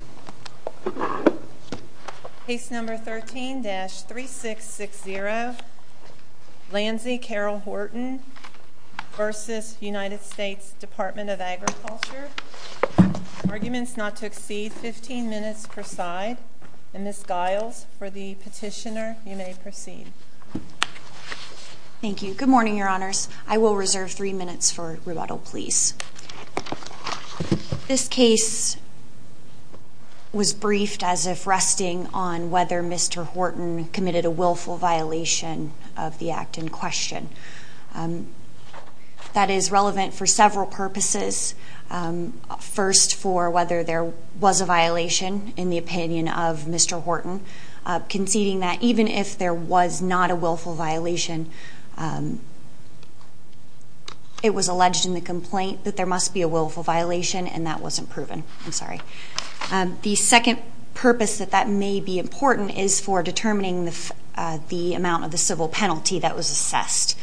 v. U.S. Department of Agriculture Arguments not to exceed 15 minutes per side Ms. Giles for the petitioner you may proceed. Thank you. Good morning your honors. I will reserve three minutes for rebuttal please. This case was briefed as if resting on whether Mr. Horton committed a willful violation of the act in question. That is relevant for several purposes. First for whether there was a violation in the opinion of Mr. Horton conceding that even if there was not a willful violation it was alleged in the complaint that there must be a willful violation and that wasn't proven. The second purpose that may be important is for determining the amount of the civil penalty that was assessed.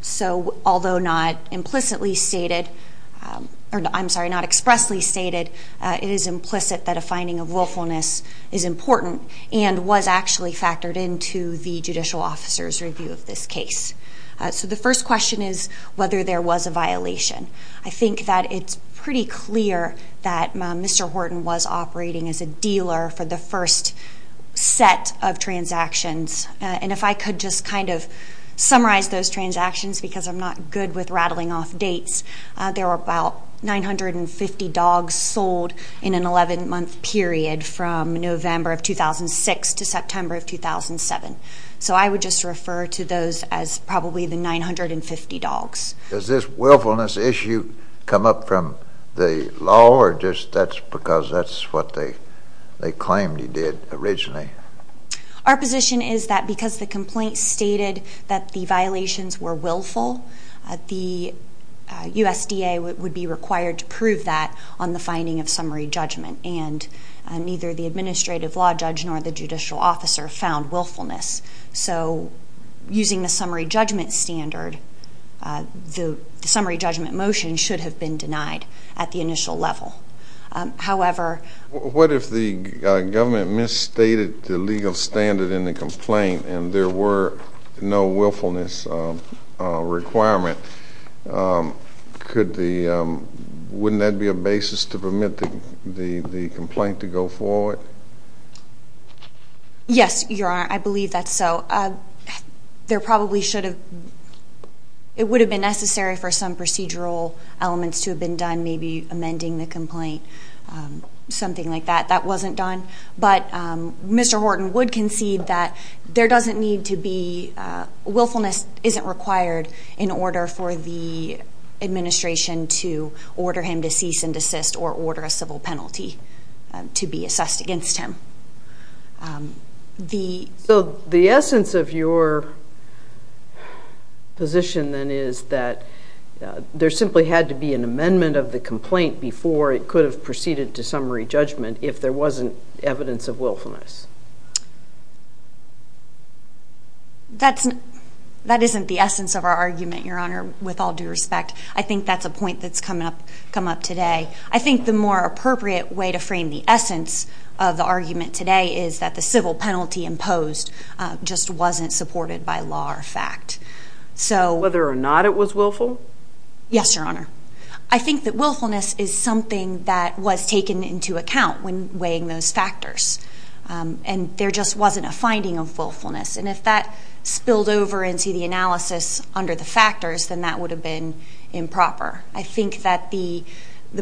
So although not explicitly stated it is implicit that a finding of willfulness is important and was actually factored into the judicial officer's review of this case. So the first question is whether there was a violation. I think that it's pretty clear that Mr. Horton was operating as a dealer for the first set of transactions and if I could just kind of summarize those transactions because I'm not good with rattling off dates. There were about 950 dogs sold in an 11 month period from November of 2006 to September of 2007. So I would just refer to those as probably the 950 dogs. Does this willfulness issue come up from the law or just because that's what they claimed he did originally? Our position is that because the complaint stated that the violations were willful, the USDA would be required to prove that on the finding of summary judgment and neither the administrative law judge nor the judicial officer found willfulness. So using the summary judgment standard, the summary judgment motion should have been denied at the initial level. What if the government misstated the legal standard in the complaint and there were no willfulness requirement, wouldn't that be a basis to permit the complaint to go forward? Yes, Your Honor, I believe that's so. There probably should have, it would have been necessary for some procedural elements to have been done, maybe amending the complaint, something like that. That wasn't done, but Mr. Horton would concede that there doesn't need to be, willfulness isn't required in order for the administration to order him to cease and desist or order a civil penalty to be assessed against him. So the essence of your position then is that there simply had to be an amendment of the complaint before it could have proceeded to summary judgment if there wasn't evidence of willfulness? That isn't the essence of our argument, Your Honor, with all due respect. I think that's a point that's come up today. I think the more appropriate way to frame the essence of the argument today is that the civil penalty imposed just wasn't supported by law or fact. Whether or not it was willful? Yes, Your Honor. I think that willfulness is something that was taken into account when weighing those factors and there just wasn't a finding of willfulness. And if that spilled over into the analysis under the factors, then that would have been improper. I think that the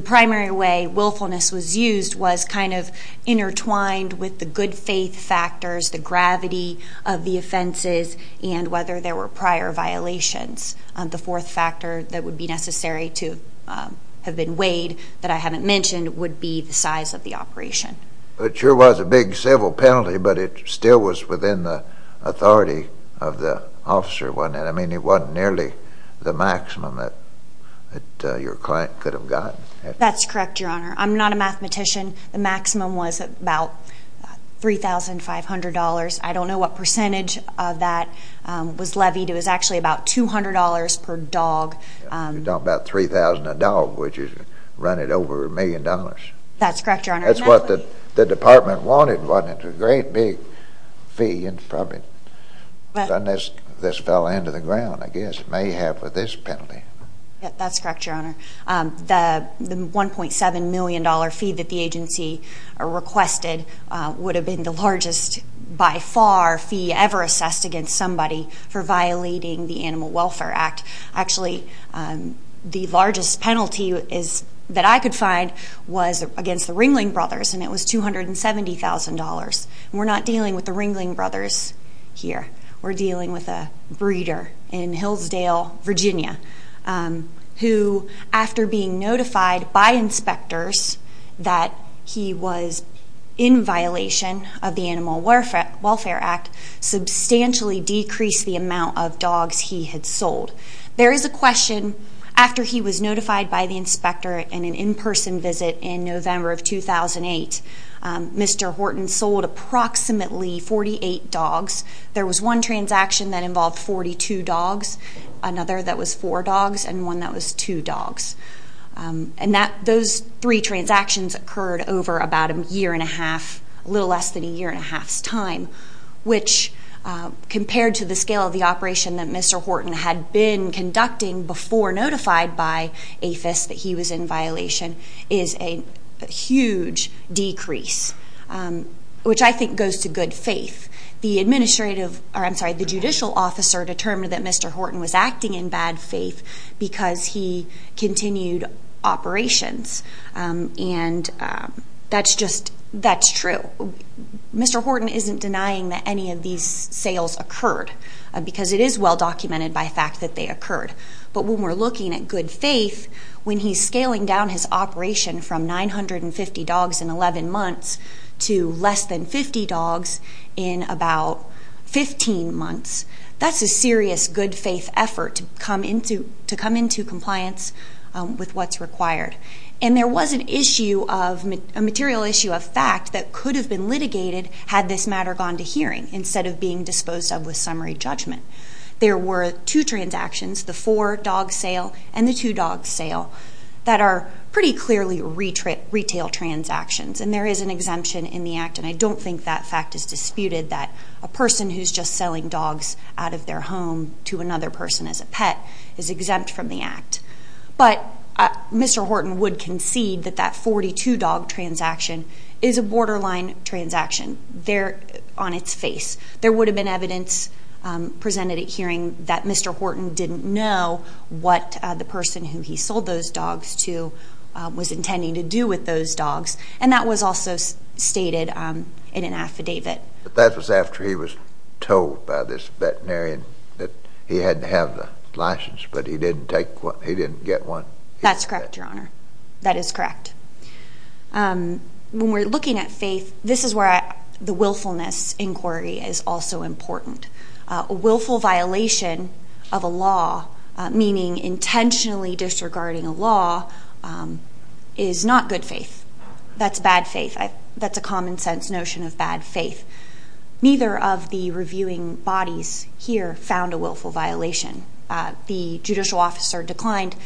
primary way willfulness was used was kind of intertwined with the good faith factors, the gravity of the offenses, and whether there were prior violations. The fourth factor that would be necessary to have been weighed that I haven't mentioned would be the size of the operation. It sure was a big civil penalty, but it still was within the authority of the officer. I mean, it wasn't nearly the maximum that your client could have gotten. That's correct, Your Honor. I'm not a mathematician. The maximum was about $3,500. I don't know what percentage of that was levied. It was actually about $200 per dog. You're talking about $3,000 a dog, which is running over a million dollars. That's correct, Your Honor. That's what the department wanted, wasn't it? It was a great big fee, and probably this fell into the ground, I guess, mayhap with this penalty. That's correct, Your Honor. The $1.7 million fee that the agency requested would have been the largest by far fee ever assessed against somebody for violating the Animal Welfare Act. Actually, the largest penalty that I could find was against the Ringling Brothers, and it was $270,000. We're not dealing with the Ringling Brothers here. We're dealing with a breeder in Hillsdale, Virginia, who, after being notified by inspectors that he was in violation of the Animal Welfare Act, substantially decreased the amount of dogs he had sold. There is a question, after he was notified by the inspector in an in-person visit in Mr. Horton sold approximately 48 dogs. There was one transaction that involved 42 dogs, another that was four dogs, and one that was two dogs. Those three transactions occurred over about a year and a half, a little less than a year and a half's time, which compared to the scale of the operation that Mr. Horton had been which I think goes to good faith. The judicial officer determined that Mr. Horton was acting in bad faith because he continued operations, and that's true. Mr. Horton isn't denying that any of these sales occurred, because it is well-documented by fact that they occurred. But when we're looking at good faith, when he's scaling down his operation from 950 dogs in 11 months to less than 50 dogs in about 15 months, that's a serious good faith effort to come into compliance with what's required. And there was a material issue of fact that could have been litigated had this matter gone to hearing instead of being disposed of with summary judgment. There were two transactions, the four-dog sale and the two-dog sale, that are pretty clearly retail transactions. And there is an exemption in the act, and I don't think that fact is disputed, that a person who's just selling dogs out of their home to another person as a pet is exempt from the act. But Mr. Horton would concede that that 42-dog transaction is a borderline transaction on its face. There would have been evidence presented at hearing that Mr. Horton didn't know what the was intending to do with those dogs. And that was also stated in an affidavit. But that was after he was told by this veterinarian that he had to have the license, but he didn't take one, he didn't get one? That's correct, Your Honor. That is correct. When we're looking at faith, this is where the willfulness inquiry is also important. A willful violation of a law, meaning intentionally disregarding a law, is not good faith. That's bad faith. That's a common-sense notion of bad faith. Neither of the reviewing bodies here found a willful violation. The judicial officer declined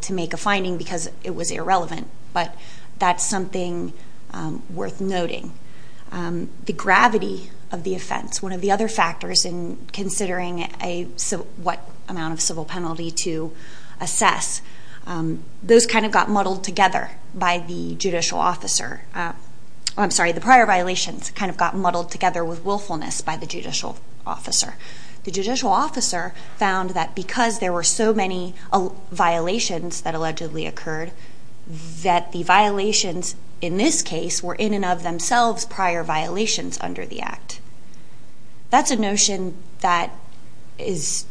to make a finding because it was irrelevant, but that's something worth noting. The gravity of the offense, one of the other factors in considering what amount of civil penalty to assess, those kind of got muddled together by the judicial officer. I'm sorry, the prior violations kind of got muddled together with willfulness by the judicial officer. The judicial officer found that because there were so many violations that allegedly occurred, that the violations in this case were in and of themselves prior violations under the Act. That's a notion that is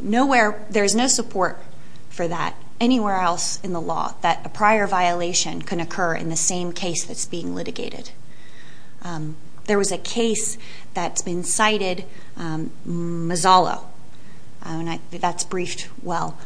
nowhere, there's no support for that anywhere else in the law, that a prior violation can occur in the same case that's being litigated. There was a case that's been cited, Mazzallo, and that's briefed well.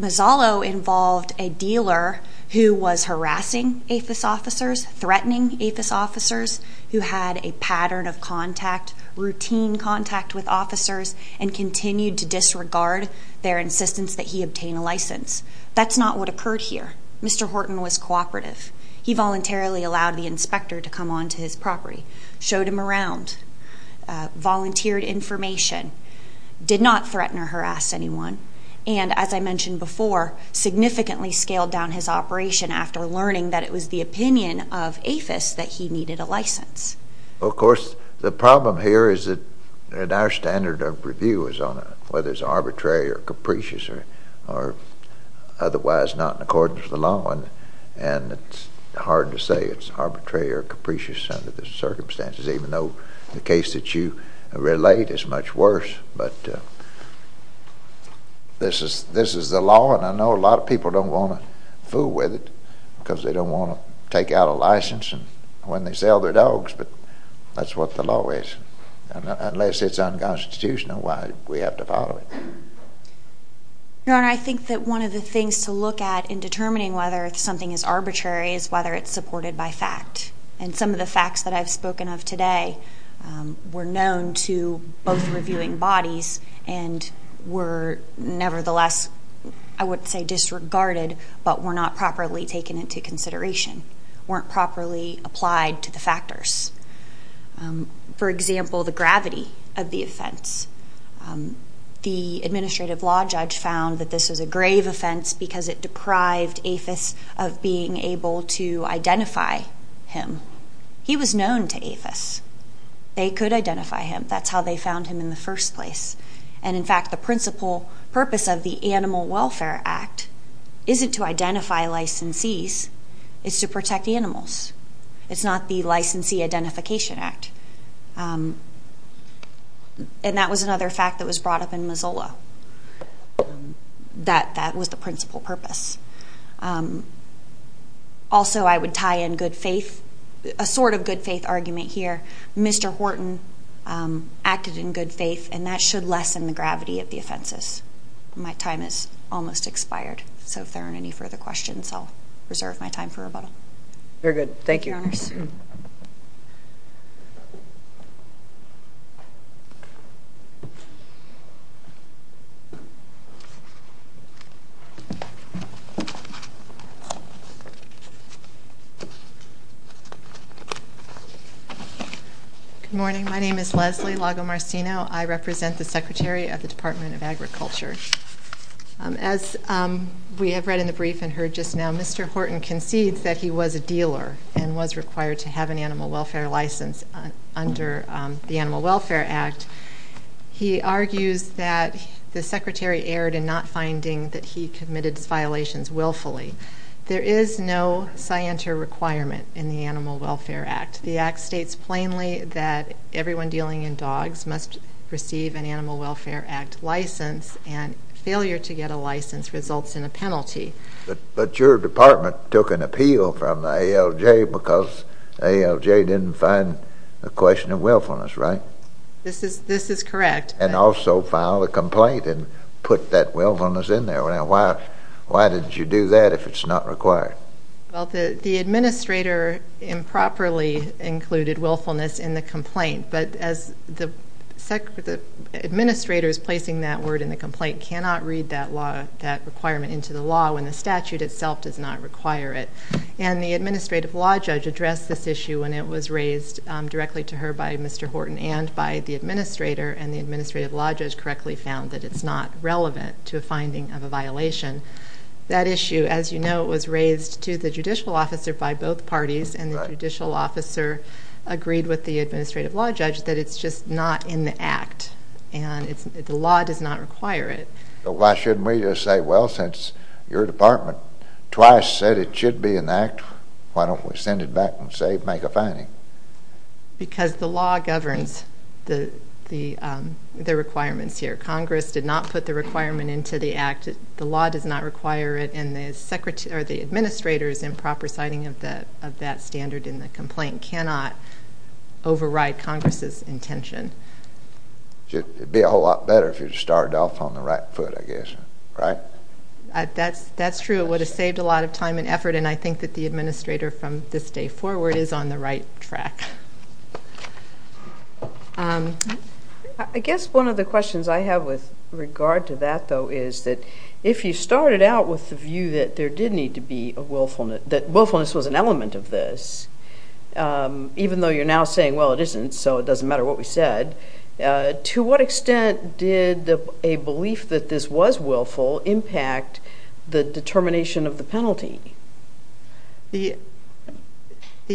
Mazzallo involved a dealer who was harassing APHIS officers, threatening APHIS officers, who had a pattern of contact, routine contact with officers, and continued to disregard their insistence that he obtain a license. That's not what occurred here. Mr. Horton was cooperative. He voluntarily allowed the inspector to come onto his property, showed him around, volunteered information, did not threaten or harass anyone, and, as I mentioned before, significantly scaled down his operation after learning that it was the opinion of APHIS that he needed a license. Of course, the problem here is that our standard of review is on whether it's arbitrary or capricious or otherwise not in accordance with the law, and it's hard to say it's arbitrary or capricious under the circumstances, even though the case that you relate is much worse. But this is the law, and I know a lot of people don't want to fool with it because they don't want to take out a license when they sell their dogs, but that's what the law is. Unless it's unconstitutional, why do we have to follow it? Your Honor, I think that one of the things to look at in determining whether something is arbitrary is whether it's supported by fact, and some of the facts that I've spoken of today were known to both reviewing bodies and were nevertheless, I would say disregarded, but were not properly taken into consideration, weren't properly applied to the factors. For example, the gravity of the offense. The administrative law judge found that this was a grave offense because it deprived APHIS of being able to identify him. He was known to APHIS. They could identify him. That's how they found him in the first place. And in fact, the principal purpose of the Animal Welfare Act isn't to identify licensees. It's to protect animals. It's not the Licensee Identification Act. And that was another fact that was brought up in Missoula. That was the principal purpose. Also I would tie in good faith, a sort of good faith argument here. Mr. Horton acted in good faith, and that should lessen the gravity of the offenses. My time is almost expired, so if there aren't any further questions, I'll reserve my time for rebuttal. Thank you. Good morning, my name is Leslie Lagomarsino. I represent the Secretary of the Department of Agriculture. As we have read in the brief and heard just now, Mr. Horton concedes that he was a dealer and was required to have an animal welfare license under the Animal Welfare Act. He argues that the Secretary erred in not finding that he committed his violations willfully. There is no scienter requirement in the Animal Welfare Act. The Act states plainly that everyone dealing in dogs must receive an Animal Welfare Act license, and failure to get a license results in a penalty. But your department took an appeal from the ALJ because ALJ didn't find a question of willfulness, right? This is correct. And also filed a complaint and put that willfulness in there. Why did you do that if it's not required? The administrator improperly included willfulness in the complaint, but as the administrator is placing that word in the complaint, cannot read that requirement into the law when the statute itself does not require it. And the administrative law judge addressed this issue when it was raised directly to the Administrator by Mr. Horton and by the Administrator, and the Administrative Law Judge correctly found that it's not relevant to a finding of a violation. That issue, as you know, was raised to the Judicial Officer by both parties, and the Judicial Officer agreed with the Administrative Law Judge that it's just not in the Act. And the law does not require it. But why shouldn't we just say, well, since your department twice said it should be in the Act, why don't we send it back and say, make a finding? Because the law governs the requirements here. Congress did not put the requirement into the Act. The law does not require it, and the Administrator's improper citing of that standard in the complaint cannot override Congress's intention. It'd be a whole lot better if you started off on the right foot, I guess. Right? That's true. It would have saved a lot of time and effort, and I think that the Administrator from this day forward is on the right track. I guess one of the questions I have with regard to that, though, is that if you started out with the view that there did need to be a willfulness, that willfulness was an element of this, even though you're now saying, well, it isn't, so it doesn't matter what we said, to what extent did a belief that this was willful impact the determination of the penalty? The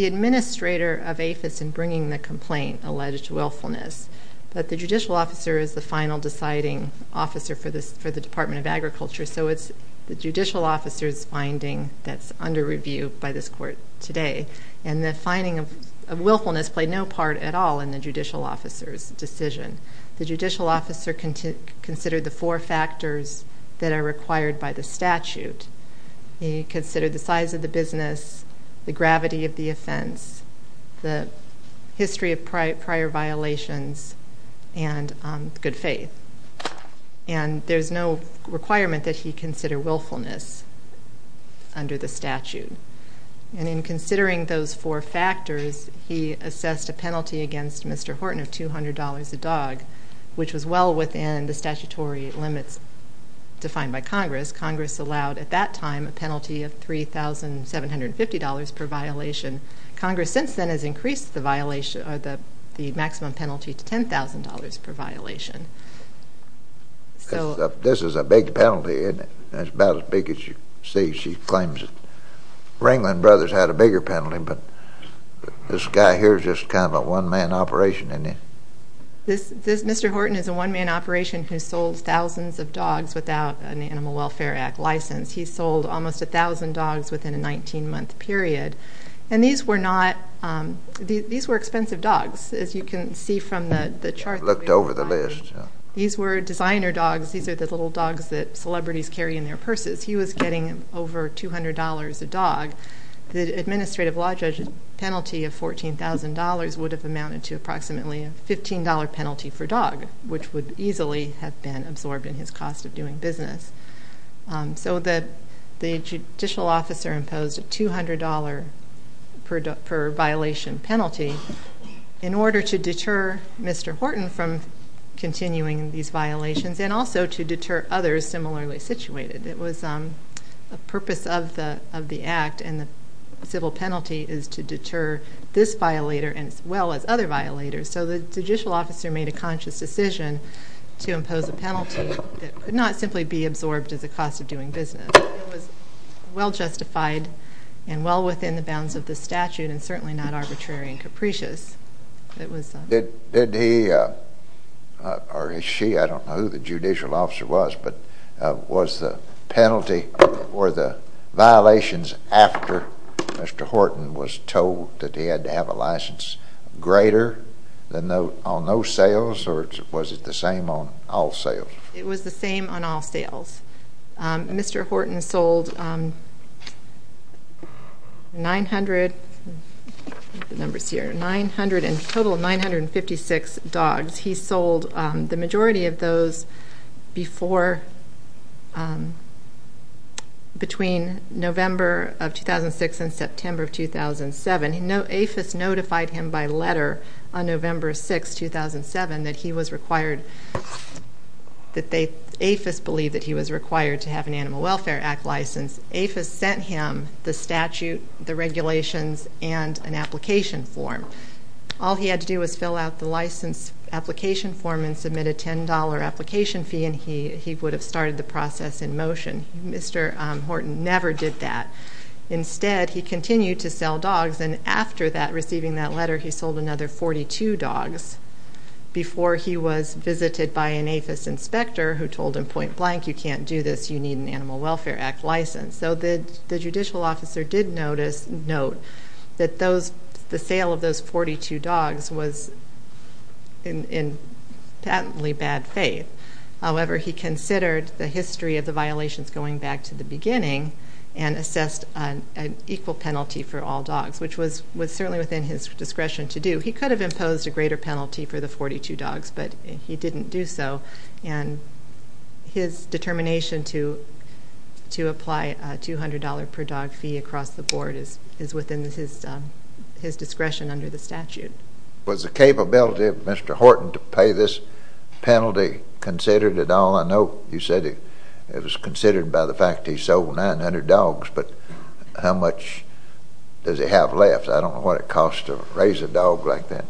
Administrator of APHIS in bringing the complaint alleged willfulness, but the Judicial Officer is the final deciding officer for the Department of Agriculture, so it's the Judicial Officer's finding that's under review by this Court today, and the finding of willfulness played no part at all in the Judicial Officer's decision. The Judicial Officer considered the four factors that are required by the statute. He considered the size of the business, the gravity of the offense, the history of prior violations, and good faith, and there's no requirement that he consider willfulness under the statute, and in considering those four factors, he assessed a penalty against Mr. Horton of $200 a dog, which was well within the statutory limits defined by Congress. Congress allowed, at that time, a penalty of $3,750 per violation. Congress since then has increased the maximum penalty to $10,000 per violation. This is a big penalty, isn't it? It's about as big as you see. She claims that Ringland Brothers had a bigger penalty, but this guy here is just kind of a one-man operation, isn't he? This Mr. Horton is a one-man operation who sold thousands of dogs without an Animal Welfare Act license. He sold almost 1,000 dogs within a 19-month period, and these were not, these were expensive dogs. As you can see from the chart, these were designer dogs, these are the little dogs that celebrities carry in their purses. He was getting over $200 a dog. The administrative law judge's penalty of $14,000 would have amounted to approximately a $15 penalty for dog, which would easily have been absorbed in his cost of doing business. So the judicial officer imposed a $200 per violation penalty in order to deter Mr. Horton from continuing these violations and also to deter others similarly situated. It was a purpose of the Act, and the civil penalty is to deter this violator as well as other violators. So the judicial officer made a conscious decision to impose a penalty that could not simply be absorbed as a cost of doing business. It was well justified and well within the bounds of the statute and certainly not arbitrary and capricious. Did he, or is she, I don't know who the judicial officer was, but was the penalty or the violations after Mr. Horton was told that he had to have a license greater on no sales or was it the same on all sales? Mr. Horton sold 900 and a total of 956 dogs. He sold the majority of those between November of 2006 and September of 2007. APHIS notified him by letter on November 6, 2007, that APHIS believed that he was required to have an Animal Welfare Act license. APHIS sent him the statute, the regulations, and an application form. All he had to do was fill out the license application form and submit a $10 application fee and he would have started the process in motion. Mr. Horton never did that. Instead, he continued to sell dogs and after that, receiving that letter, he sold another 42 dogs before he was visited by an APHIS inspector who told him point blank, you can't do this, you need an Animal Welfare Act license. So the judicial officer did note that the sale of those 42 dogs was in patently bad faith. However, he considered the history of the violations going back to the beginning and assessed an equal penalty for all dogs, which was certainly within his discretion to do. He could have imposed a greater penalty for the 42 dogs, but he didn't do so, and his determination to apply a $200 per dog fee across the board is within his discretion under the statute. Was the capability of Mr. Horton to pay this penalty considered at all? I know you said it was considered by the fact he sold 900 dogs, but how much does he have left? I don't know what it costs to raise a dog like that.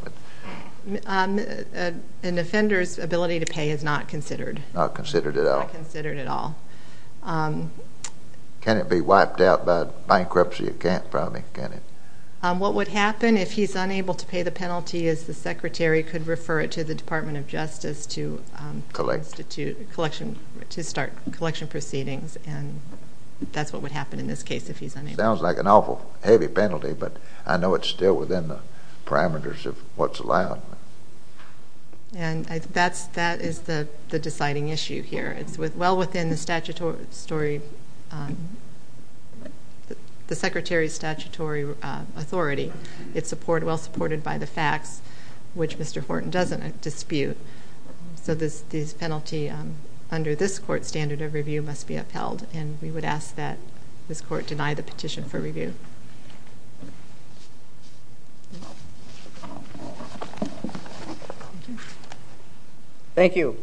An offender's ability to pay is not considered. Not considered at all. Not considered at all. Can it be wiped out by bankruptcy? It can't probably, can it? What would happen if he's unable to pay the penalty is the secretary could refer it to the Department of Justice to start collection proceedings, and that's what would happen in this case if he's unable. It sounds like an awful heavy penalty, but I know it's still within the parameters of what's allowed. And that is the deciding issue here. It's well within the secretary's statutory authority. It's well supported by the facts, which Mr. Horton doesn't dispute. So this penalty under this court's standard of review must be upheld, and we would ask that this court deny the petition for review. Thank you.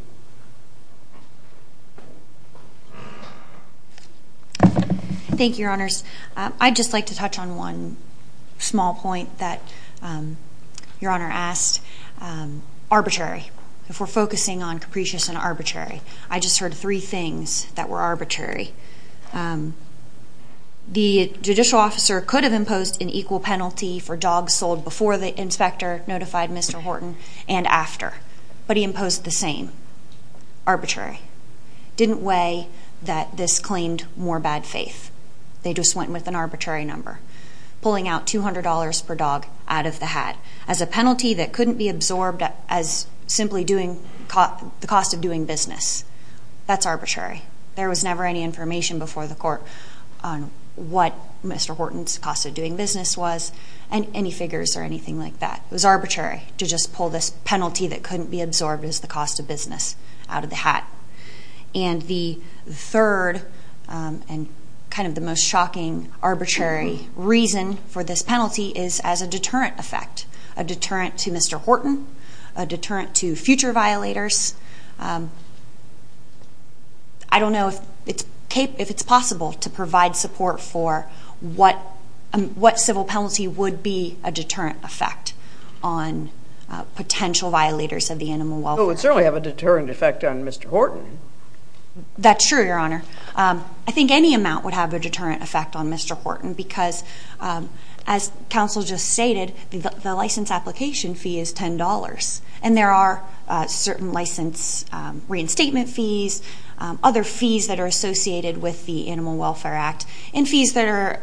Thank you, Your Honors. I'd just like to touch on one small point that Your Honor asked, arbitrary, if we're focusing on capricious and arbitrary. I just heard three things that were arbitrary. The judicial officer could have imposed an equal penalty for dogs sold before the inspector notified Mr. Horton and after, but he imposed the same, arbitrary. Didn't weigh that this claimed more bad faith. They just went with an arbitrary number, pulling out $200 per dog out of the hat as a penalty that couldn't be absorbed as simply the cost of doing business. That's arbitrary. There was never any information before the court on what Mr. Horton's cost of doing business was and any figures or anything like that. It was arbitrary to just pull this penalty that couldn't be absorbed as the cost of business out of the hat. And the third and kind of the most shocking arbitrary reason for this penalty is as a deterrent to Mr. Horton, a deterrent to future violators. I don't know if it's possible to provide support for what civil penalty would be a deterrent effect on potential violators of the animal welfare. It would certainly have a deterrent effect on Mr. Horton. That's true, Your Honor. I think any amount would have a deterrent effect on Mr. Horton because as counsel just stated, the license application fee is $10. And there are certain license reinstatement fees, other fees that are associated with the Animal Welfare Act, and fees that are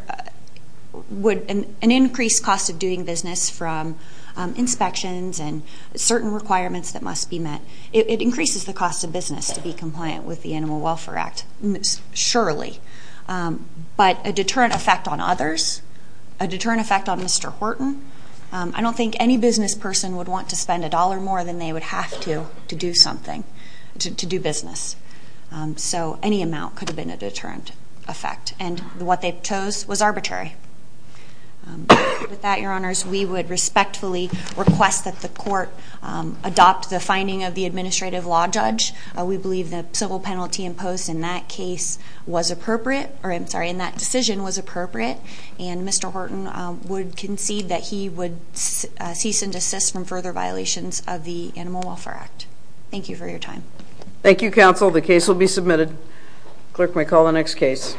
an increased cost of doing business from inspections and certain requirements that must be met. It increases the cost of business to be compliant with the Animal Welfare Act, surely. But a deterrent effect on others, a deterrent effect on Mr. Horton, I don't think any business person would want to spend a dollar more than they would have to do something, to do business. So any amount could have been a deterrent effect. And what they chose was arbitrary. With that, Your Honors, we would respectfully request that the court adopt the finding of the administrative law judge. We believe the civil penalty imposed in that case was appropriate, or I'm sorry, in that decision was appropriate. And Mr. Horton would concede that he would cease and desist from further violations of the Animal Welfare Act. Thank you for your time. Thank you, counsel. The case will be submitted. The clerk may call the next case.